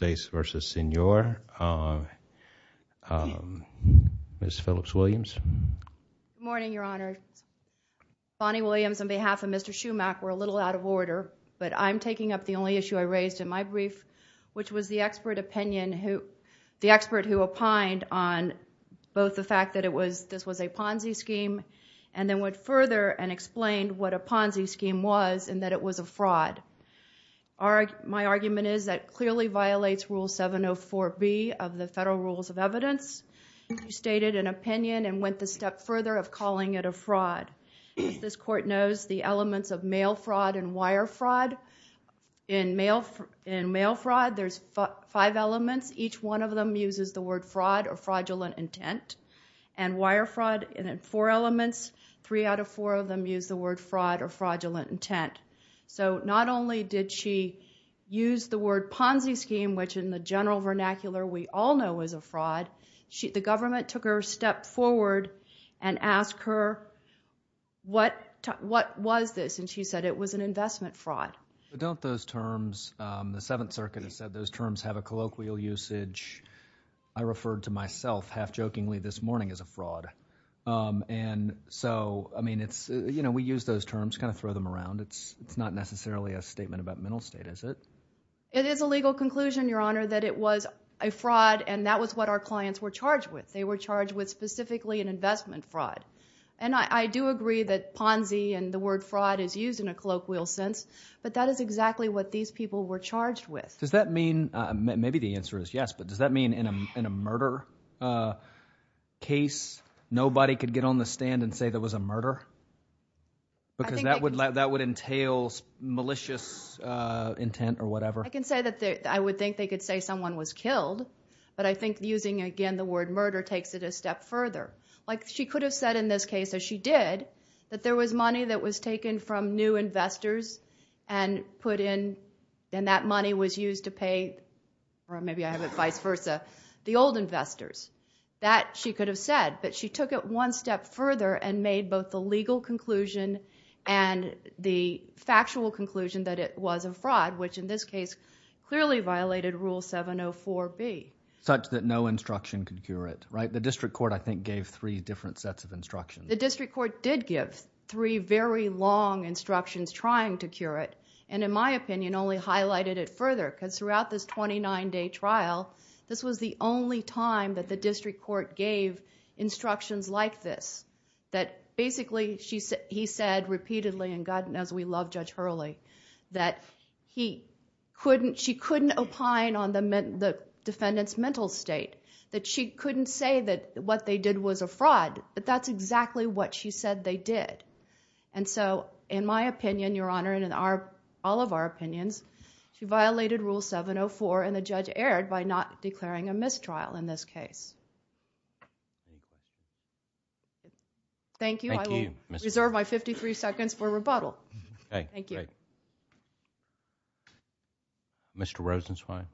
Good morning, Your Honor. Bonnie Williams on behalf of Mr. Schumach were a little out of order, but I'm taking up the only issue I raised in my brief, which was the expert opinion who, the expert who opined on both the fact that it was, this was a Ponzi scheme and then went further and explained what a Ponzi scheme was and that it was a fraud. My argument is that it clearly violates Rule 704B of the Federal Rules of Evidence. You stated an opinion and went the step further of calling it a fraud. As this Court knows, the elements of mail fraud and wire fraud, in mail fraud there's five elements. Each one of them uses the word fraud or fraudulent intent. And wire fraud, in four elements, three out of four of them use the word fraud or fraudulent intent. So not only did she use the word Ponzi scheme, which in the general vernacular we all know is a fraud, the government took her a step forward and asked her, what was this? And she said it was an investment fraud. But don't those terms, the Seventh Circuit has said those terms have a colloquial usage. I referred to myself half-jokingly this morning as a fraud. And so, I mean, it's, you know, we use those terms, kind of throw them around. It's not necessarily a statement about mental state, is it? It is a legal conclusion, Your Honor, that it was a fraud and that was what our clients were charged with. They were charged with specifically an investment fraud. And I do agree that Ponzi and the word fraud is used in a colloquial sense, but that is exactly what these people were charged with. Does that mean – maybe the answer is yes – but does that mean in a murder case nobody could get on the stand and say there was a murder? Because that would entail malicious intent or whatever. I can say that I would think they could say someone was killed, but I think using, again, the word murder takes it a step further. Like she could have said in this case, as she did, that there was money that was taken from new investors and put in, and that money was used to pay – or maybe I have it vice versa – the old investors. That she could have said, but she took it one step further and made both the legal conclusion and the factual conclusion that it was a fraud, which in this case clearly violated Rule 704B. Such that no instruction could cure it, right? The district court, I think, gave three different sets of instructions. The district court did give three very long instructions trying to cure it, and in my opinion only highlighted it further, because throughout this 29-day trial, this was the only time that the district court gave instructions like this, that basically he said repeatedly – and God knows we love Judge Hurley – that she couldn't opine on the defendant's mental state, that she couldn't say that what they did was a fraud, but that's exactly what she said they did. And so, in my opinion, Your Honor, and in all of our opinions, she violated Rule 704 and the judge erred by not declaring a mistrial in this case. Thank you. I will reserve my 53 seconds for rebuttal. Thank you. Mr. Rosenzweig.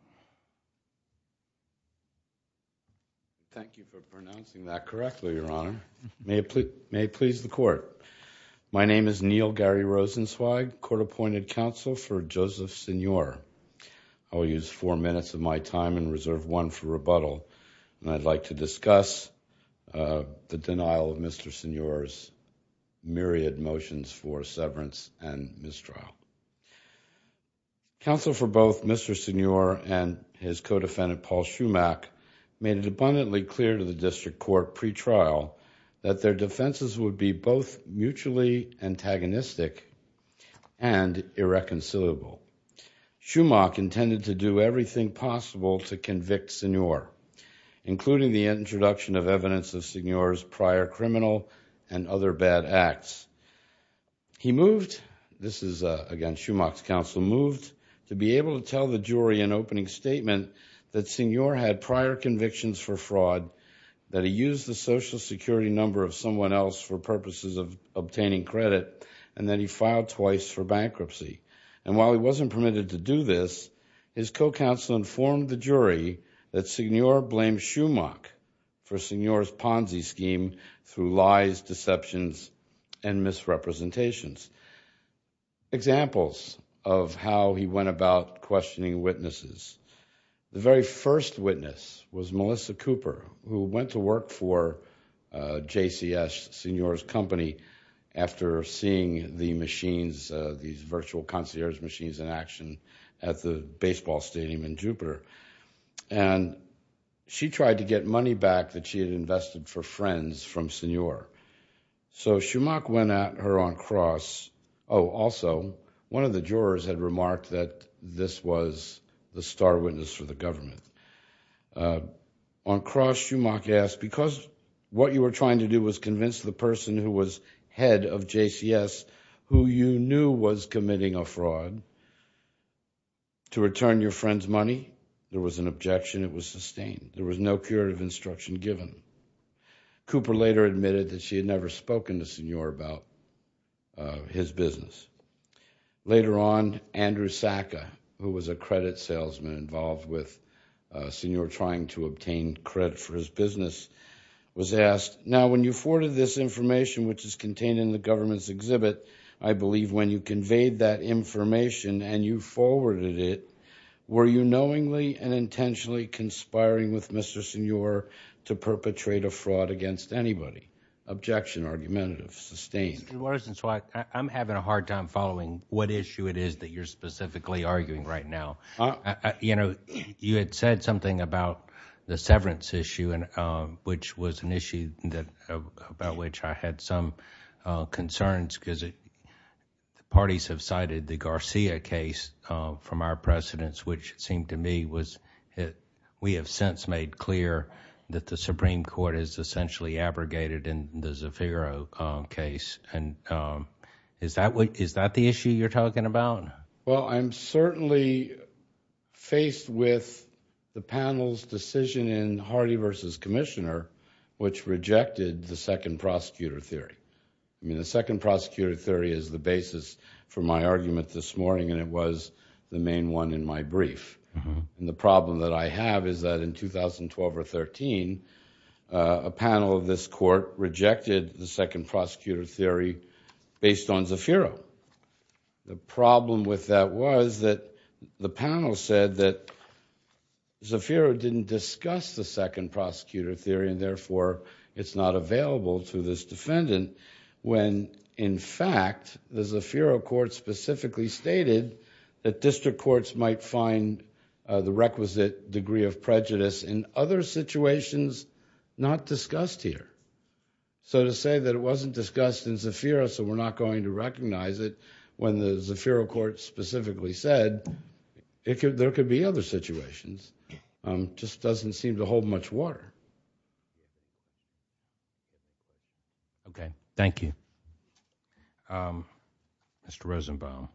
Thank you for pronouncing that correctly, Your Honor. May it please the court. My name is Neil Gary Rosenzweig, court-appointed counsel for Joseph Signore. I will use four minutes of my time and reserve one for rebuttal, and I'd like to discuss the denial of Mr. Signore's myriad motions for severance and mistrial. Counsel for both Mr. Signore and his co-defendant Paul Schumach made it abundantly clear to the district court pretrial that their defenses would be both mutually antagonistic and irreconcilable. Schumach intended to do everything possible to convict Signore, including the introduction of evidence of Signore's prior criminal and other bad acts. He moved, this is again Schumach's counsel, moved to be able to tell the jury an opening statement that Signore had prior convictions for fraud, that he used the Social Security number of someone else for purposes of obtaining credit, and that he filed twice for bankruptcy. And while he wasn't permitted to do this, his co-counsel informed the jury that Signore blamed Schumach for Signore's Ponzi scheme through lies, deceptions, and misrepresentations. Examples of how he went about questioning witnesses. The very first witness was Melissa Cooper, who went to work for JCS, Signore's company, after seeing the machines, these virtual concierge machines in action at the baseball stadium in Jupiter. And she tried to get money back that she had invested for friends from Signore. So Schumach went at her on cross. Oh, also, one of the jurors had remarked that this was the star witness for the government. On cross, Schumach asked, because what you were trying to do was convince the person who was head of JCS, who you knew was committing a fraud, to return your friend's money. There was an objection. It was sustained. There was no curative instruction given. Cooper later admitted that she had never spoken to Signore about his business. Later on, Andrew Saka, who was a credit salesman involved with Signore trying to obtain credit for his business, was asked, now when you forwarded this information, which is contained in the government's exhibit, I believe when you conveyed that information and you forwarded it, were you knowingly and intentionally conspiring with Mr. Signore to perpetrate a fraud against anybody? Objection, argumentative, sustained. Mr. Morrison, I'm having a hard time following what issue it is that you're specifically arguing right now. You know, you had said something about the severance issue, which was an issue about which I had some concerns because the parties have cited the Garcia case from our precedents, which it seemed to me was, we have since made clear that the Supreme Court is essentially abrogated in the Zafiro case. Is that the issue you're talking about? Well, I'm certainly faced with the panel's decision in Hardy versus Commissioner, which rejected the second prosecutor theory. I mean, the second prosecutor theory is the basis for my argument this morning, and it was the main one in my brief. And the problem that I have is that in 2012 or 13, a panel of this court rejected the second prosecutor theory based on Zafiro. The problem with that was that the panel said that Zafiro didn't discuss the second prosecutor theory, and therefore it's not available to this defendant, when in fact the Zafiro court specifically stated that district courts might find the requisite degree of prejudice in other situations not discussed here. So to say that it wasn't discussed in Zafiro, so we're not going to recognize it, when the Zafiro court specifically said there could be other situations, just doesn't seem to hold much water. Okay. Thank you. Mr. Rosenbaum.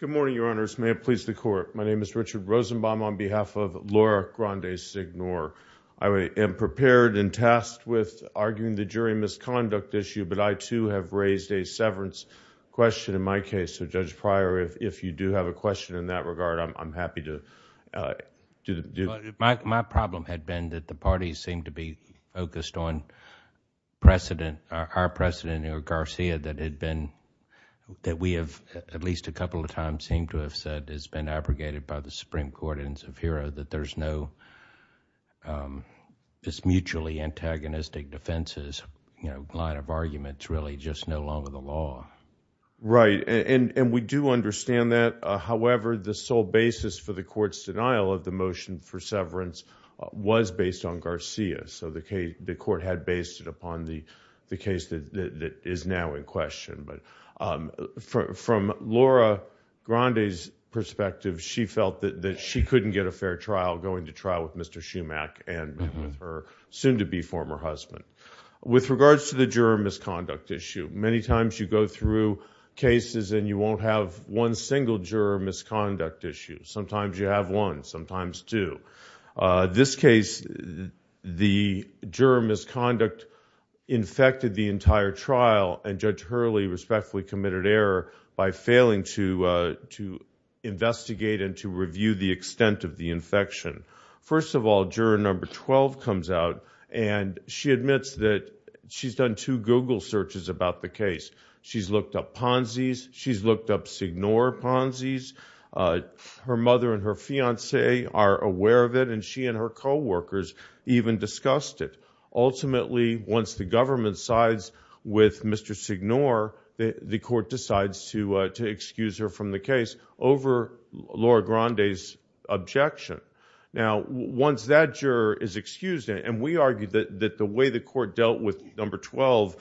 Good morning, Your Honors. May it please the court. My name is Richard Rosenbaum on behalf of Laura Grande-Signore. I am prepared and tasked with arguing the jury misconduct issue, but I too have raised a severance question in my case. So Judge Pryor, if you do have a question in that regard, I'm happy to do it. My problem had been that the parties seemed to be focused on precedent, our precedent, or Garcia, that had been, that we have at least a couple of times seemed to have said has been abrogated by the Supreme Court in Zafiro, that there's no this mutually antagonistic defenses, you know, line of arguments, really just no longer the law. Right, and we do understand that. However, the sole basis for the court's denial of the motion for severance was based on Garcia. So the case, the court had based it upon the case that is now in question. But from Laura Grande's perspective, she felt that she couldn't get a fair trial going to trial with Mr. Schumach and her soon-to-be former husband. With regards to the juror misconduct issue, many times you go through cases and you won't have one single juror misconduct issue. Sometimes you have one, sometimes two. This case, the juror misconduct infected the entire trial, and Judge Hurley respectfully committed error by failing to investigate and to review the extent of the infection. First of all, juror number 12 comes out and she admits that she's done two Google searches about the case. She's looked up Ponzi's, she's looked up Signore Ponzi's. Her mother and her fiancé are aware of it, and she and her co-workers even discussed it. Ultimately, once the government sides with Mr. Signore, the court decides to excuse her from the case over Laura Grande's objection. Now, once that juror is excused, and we argued that the way the court dealt with number 12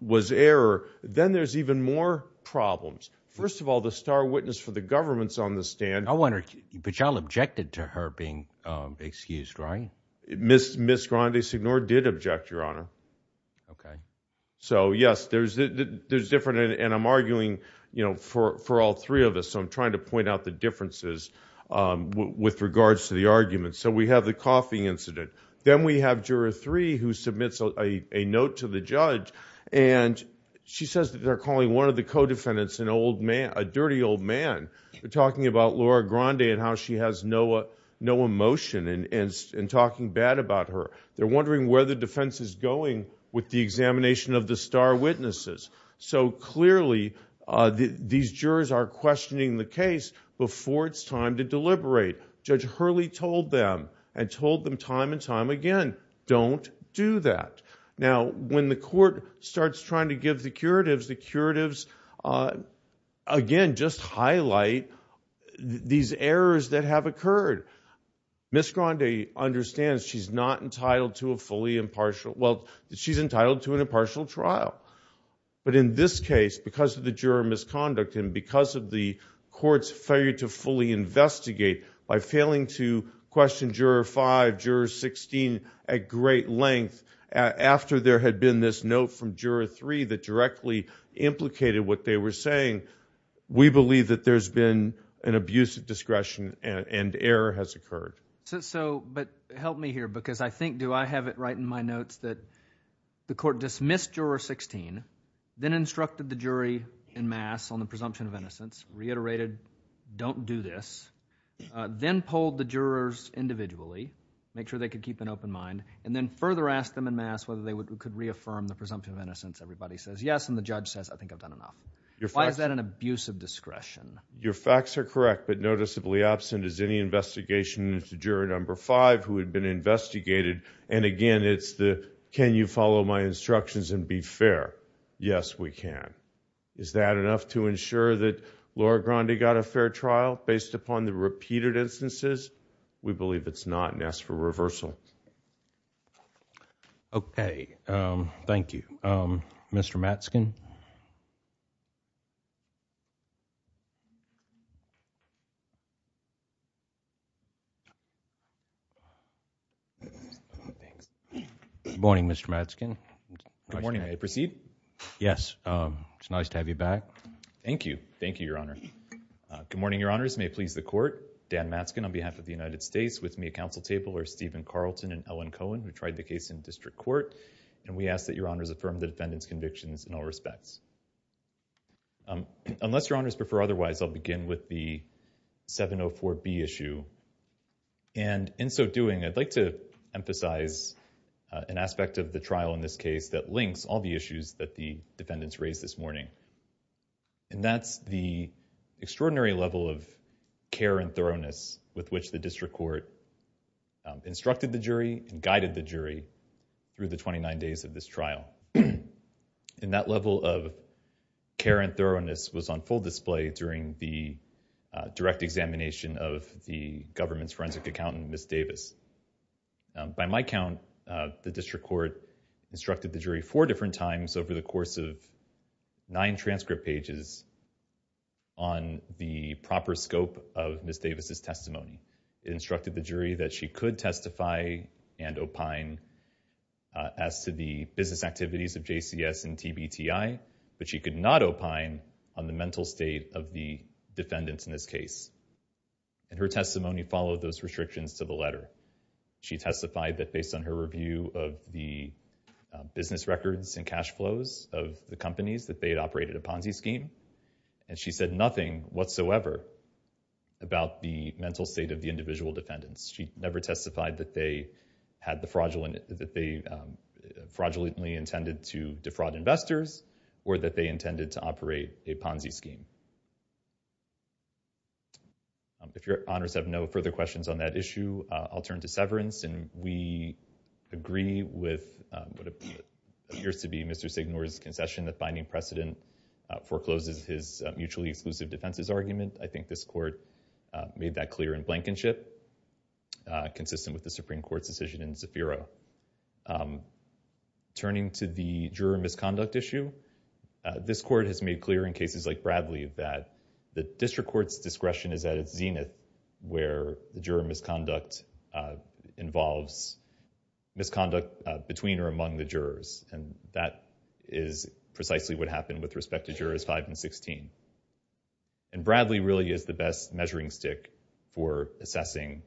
was error, then there's even more problems. First of all, the star witness for the government's on the stand. I wonder, but y'all objected to her being excused, right? Ms. Grande Signore did object, Your Honor. Okay. So yes, there's different, and I'm arguing, you know, for all three of us, so I'm trying to point out the differences with regards to the argument. So we have the coughing incident. Then we have juror three who submits a note to the judge, and she says that they're calling one of the co-defendants an old man, a dirty old man. They're talking about Laura Grande and how she has no emotion, and talking bad about her. They're wondering where the defense is going with the examination of the star witnesses. So clearly, these jurors are questioning the case before it's time to deliberate. Judge Hurley told them, and told them time and time again, don't do that. Now, when the court starts trying to give the curatives, the curatives, again, just highlight these errors that have occurred. Ms. Grande understands she's not entitled to a fully impartial, well, she's entitled to an impartial trial. But in this case, because of the juror misconduct, and because of the court's failure to fully investigate by failing to question juror five, juror 16 at great length, after there had been this note from juror three that directly implicated what they were saying, we believe that there's been an abuse of discretion and error has occurred. So, but help me here, because I think, do I have it right in my notes that the court dismissed juror 16, then instructed the jury in mass on the presumption of innocence, reiterated, don't do this, then polled the jurors individually, make sure they could keep an open mind, and then further asked them in mass whether they could reaffirm the presumption of innocence. Everybody says yes, and the judge says, I think I've done enough. Why is that an abuse of discretion? Your facts are correct, but noticeably absent is any investigation into juror number five, who had been investigated. And again, it's the, can you follow my instructions and be fair? Yes, we can. Is that enough to ensure that Laura Grande got a fair trial, based upon the repeated instances? We believe it's not, and ask for reversal. Okay. Thank you. Mr. Matzkin. Good morning, Mr. Matzkin. Good morning. May I proceed? Yes. It's nice to have you back. Thank you. Thank you, Your Honor. Good morning, Your Honors. May it please the court, Dan Matzkin on behalf of the United States, with me at counsel table are Stephen Carlton and Ellen Cohen, who tried the case in district court. And we ask that Your Honors affirm the defendant's convictions in all respects. Unless Your Honors prefer otherwise, I'll begin with the 704B issue. And in so doing, I'd like to emphasize an aspect of the trial in this case that links all the issues that the defendants raised this morning. And that's the extraordinary level of care and thoroughness with which the district court instructed the jury and guided the jury through the 29 days of this trial. And that level of care and thoroughness was on full display during the direct examination of the government's forensic accountant, Ms. Davis. By my count, the district court instructed the jury four different times over the course of nine transcript pages on the proper scope of Ms. Davis' case. And the district court instructed the jury that she could testify and opine as to the business activities of JCS and TBTI, but she could not opine on the mental state of the defendants in this case. And her testimony followed those restrictions to the letter. She testified that based on her review of the business records and cash flows of the companies that they had operated a Ponzi scheme. And she said nothing whatsoever about the mental state of the individual defendants. She never testified that they fraudulently intended to defraud investors or that they intended to operate a Ponzi scheme. If your honors have no further questions on that issue, I'll turn to severance. And we agree with what appears to be Mr. Signore's concession that finding precedent forecloses his mutually exclusive defenses argument. I think this court made that clear in Blankenship, consistent with the Supreme Court's decision in Zafira. Turning to the juror misconduct issue, this court has made clear in cases like Bradley that the district court's discretion is at its zenith where the juror misconduct involves misconduct between or among the jurors. And that is precisely what happened with respect to jurors 5 and 16. And Bradley really is the best measuring stick for assessing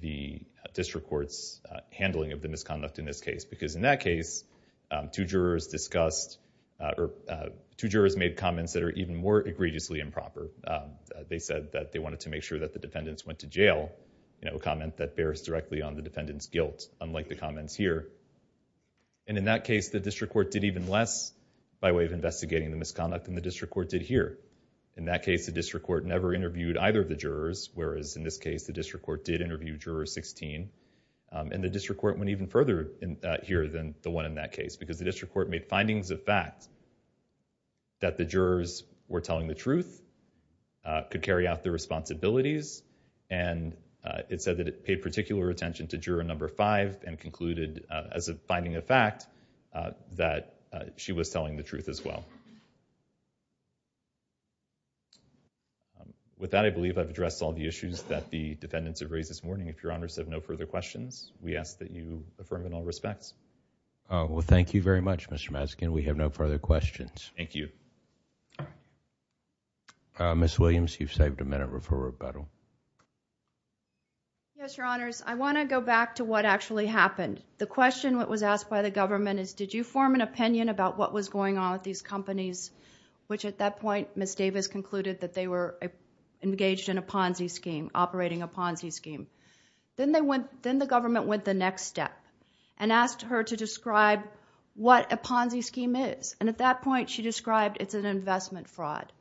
the district court's handling of the misconduct in this case. Because in that case, two jurors discussed or two jurors made comments that are even more egregiously improper. They said that they wanted to make sure that the defendants went to jail, you know, a comment that bears directly on the defendant's guilt, unlike the comments here. And in that case, the district court did even less by way of investigating the misconduct than the district court did here. In that case, the district court never interviewed either of the jurors, whereas in this case, the district court did interview juror 16. And the district court went even further here than the one in that case, because the district court made findings of fact that the jurors were telling the truth, could carry out their responsibilities. And it said it paid particular attention to juror number 5 and concluded as a finding of fact that she was telling the truth as well. With that, I believe I've addressed all the issues that the defendants have raised this morning. If your honors have no further questions, we ask that you affirm in all respects. Well, thank you very much, Mr. Maskin. We have no further questions. Thank you. Ms. Williams, you've saved a minute. Refer her to Beto. Yes, your honors. I want to go back to what actually happened. The question that was asked by the government is, did you form an opinion about what was going on with these companies, which at that point, Ms. Davis concluded that they were engaged in a Ponzi scheme, operating a Ponzi scheme. Then the government went the next step and asked her to describe what a Ponzi scheme is. And at that point, she described it's an investment fraud.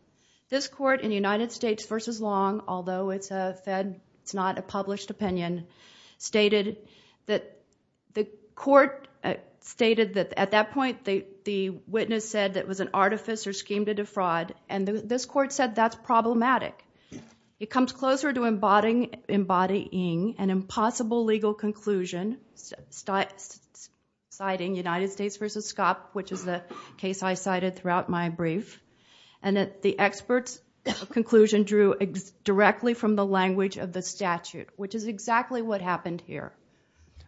This court in United States v. Long, although it's a Fed, it's not a published opinion, stated that the court stated that at that point, the witness said that it was an artifice or scheme to defraud. And this court said that's problematic. It comes closer to embodying an impossible legal conclusion, citing United States v. Scott, which is the case I cited throughout my brief. And that the experts' conclusion drew directly from the language of the statute, which is exactly what happened here.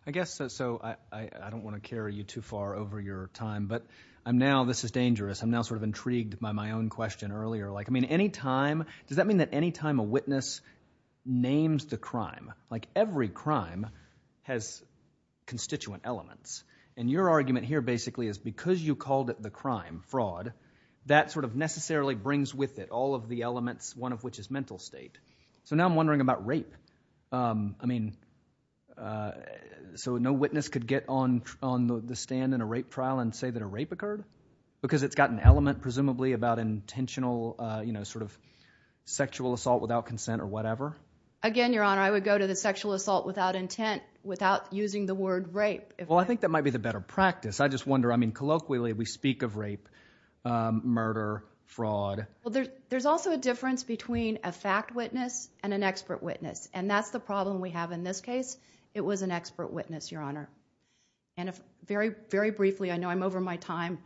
I guess, so I don't want to carry you too far over your time, but I'm now, this is dangerous. I'm now sort of intrigued by my own question earlier. Like, I mean, any time, does that crime has constituent elements? And your argument here basically is because you called it the crime fraud, that sort of necessarily brings with it all of the elements, one of which is mental state. So now I'm wondering about rape. I mean, so no witness could get on the stand in a rape trial and say that a rape occurred? Because it's got an element presumably about intentional, you know, sort of sexual assault without consent or whatever? Again, Your Honor, I would go to the sexual assault without intent, without using the word rape. Well, I think that might be the better practice. I just wonder, I mean, colloquially, we speak of rape, murder, fraud. Well, there's also a difference between a fact witness and an expert witness. And that's the problem we have in this case. It was an expert witness, Your Honor. And very, very briefly, I know I'm over my time,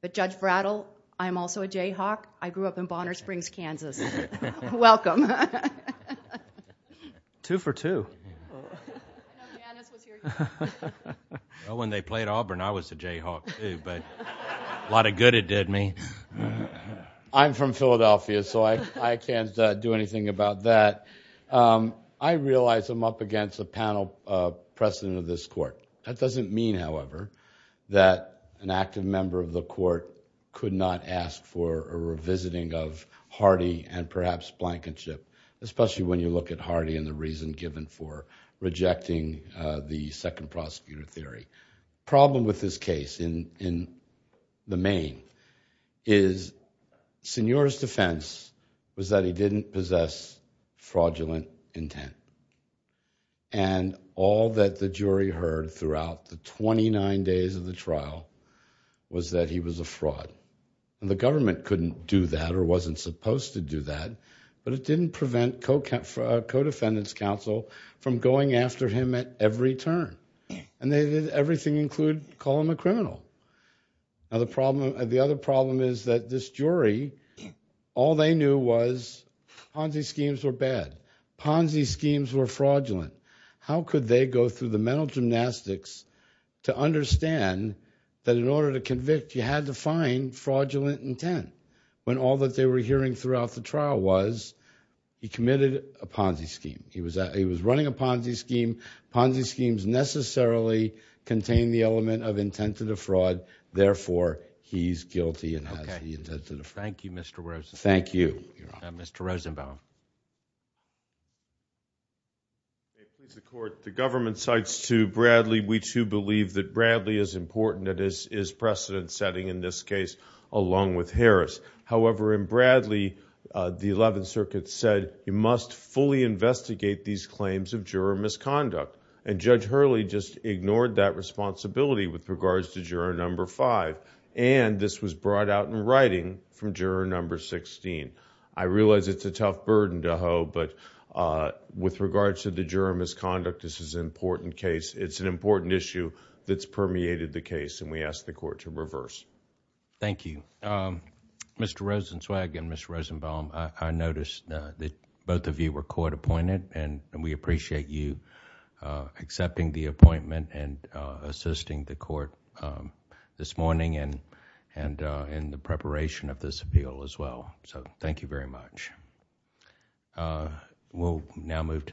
but Judge Brattle, I'm also a Jayhawk. I grew up in Bonner Springs, Kansas. Welcome. Two for two. Well, when they played Auburn, I was a Jayhawk too, but a lot of good it did me. I'm from Philadelphia, so I can't do anything about that. I realize I'm up against a panel precedent of this court. That doesn't mean, however, that an active member of the court could not ask for a revisiting of Hardy and perhaps Blankenship, especially when you look at Hardy and the reason given for rejecting the second prosecutor theory. Problem with this case in the main is Senor's defense was that he didn't possess fraudulent intent. And all that the jury heard throughout the 29 days of the trial was that he was a fraud. And the government couldn't do that or wasn't supposed to do that, but it didn't prevent co-defendants counsel from going after him at every turn. And they did everything include call him a criminal. Now, the other problem is that this jury, all they knew was Ponzi schemes were bad. Ponzi schemes were fraudulent. How could they go through the mental gymnastics to understand that in order to convict, you had to find fraudulent intent when all that they were hearing throughout the trial was he committed a Ponzi scheme. He was running a Ponzi scheme. Ponzi schemes necessarily contain the element of intent to defraud. Therefore, he's guilty and has the intent to defraud. Thank you, Mr. Rosenbaum. Thank you, Your Honor. Mr. Rosenbaum. The government cites to Bradley. We too believe that Bradley is important. It is precedent setting in this case, along with Harris. However, in Bradley, the 11th Circuit said you must fully investigate these claims of juror misconduct. And Judge Hurley just ignored that responsibility with regards to juror number five. And this was brought out in writing from juror number 16. I realize it's a tough burden to hoe, but with regards to the juror misconduct, this is an important issue that's permeated the case and we ask the court to reverse. Thank you. Mr. Rosenzweig and Mr. Rosenbaum, I noticed that both of you were court appointed and we appreciate you accepting the appointment and assisting the court this morning and the preparation of this appeal as well. Thank you very much. We'll now move to...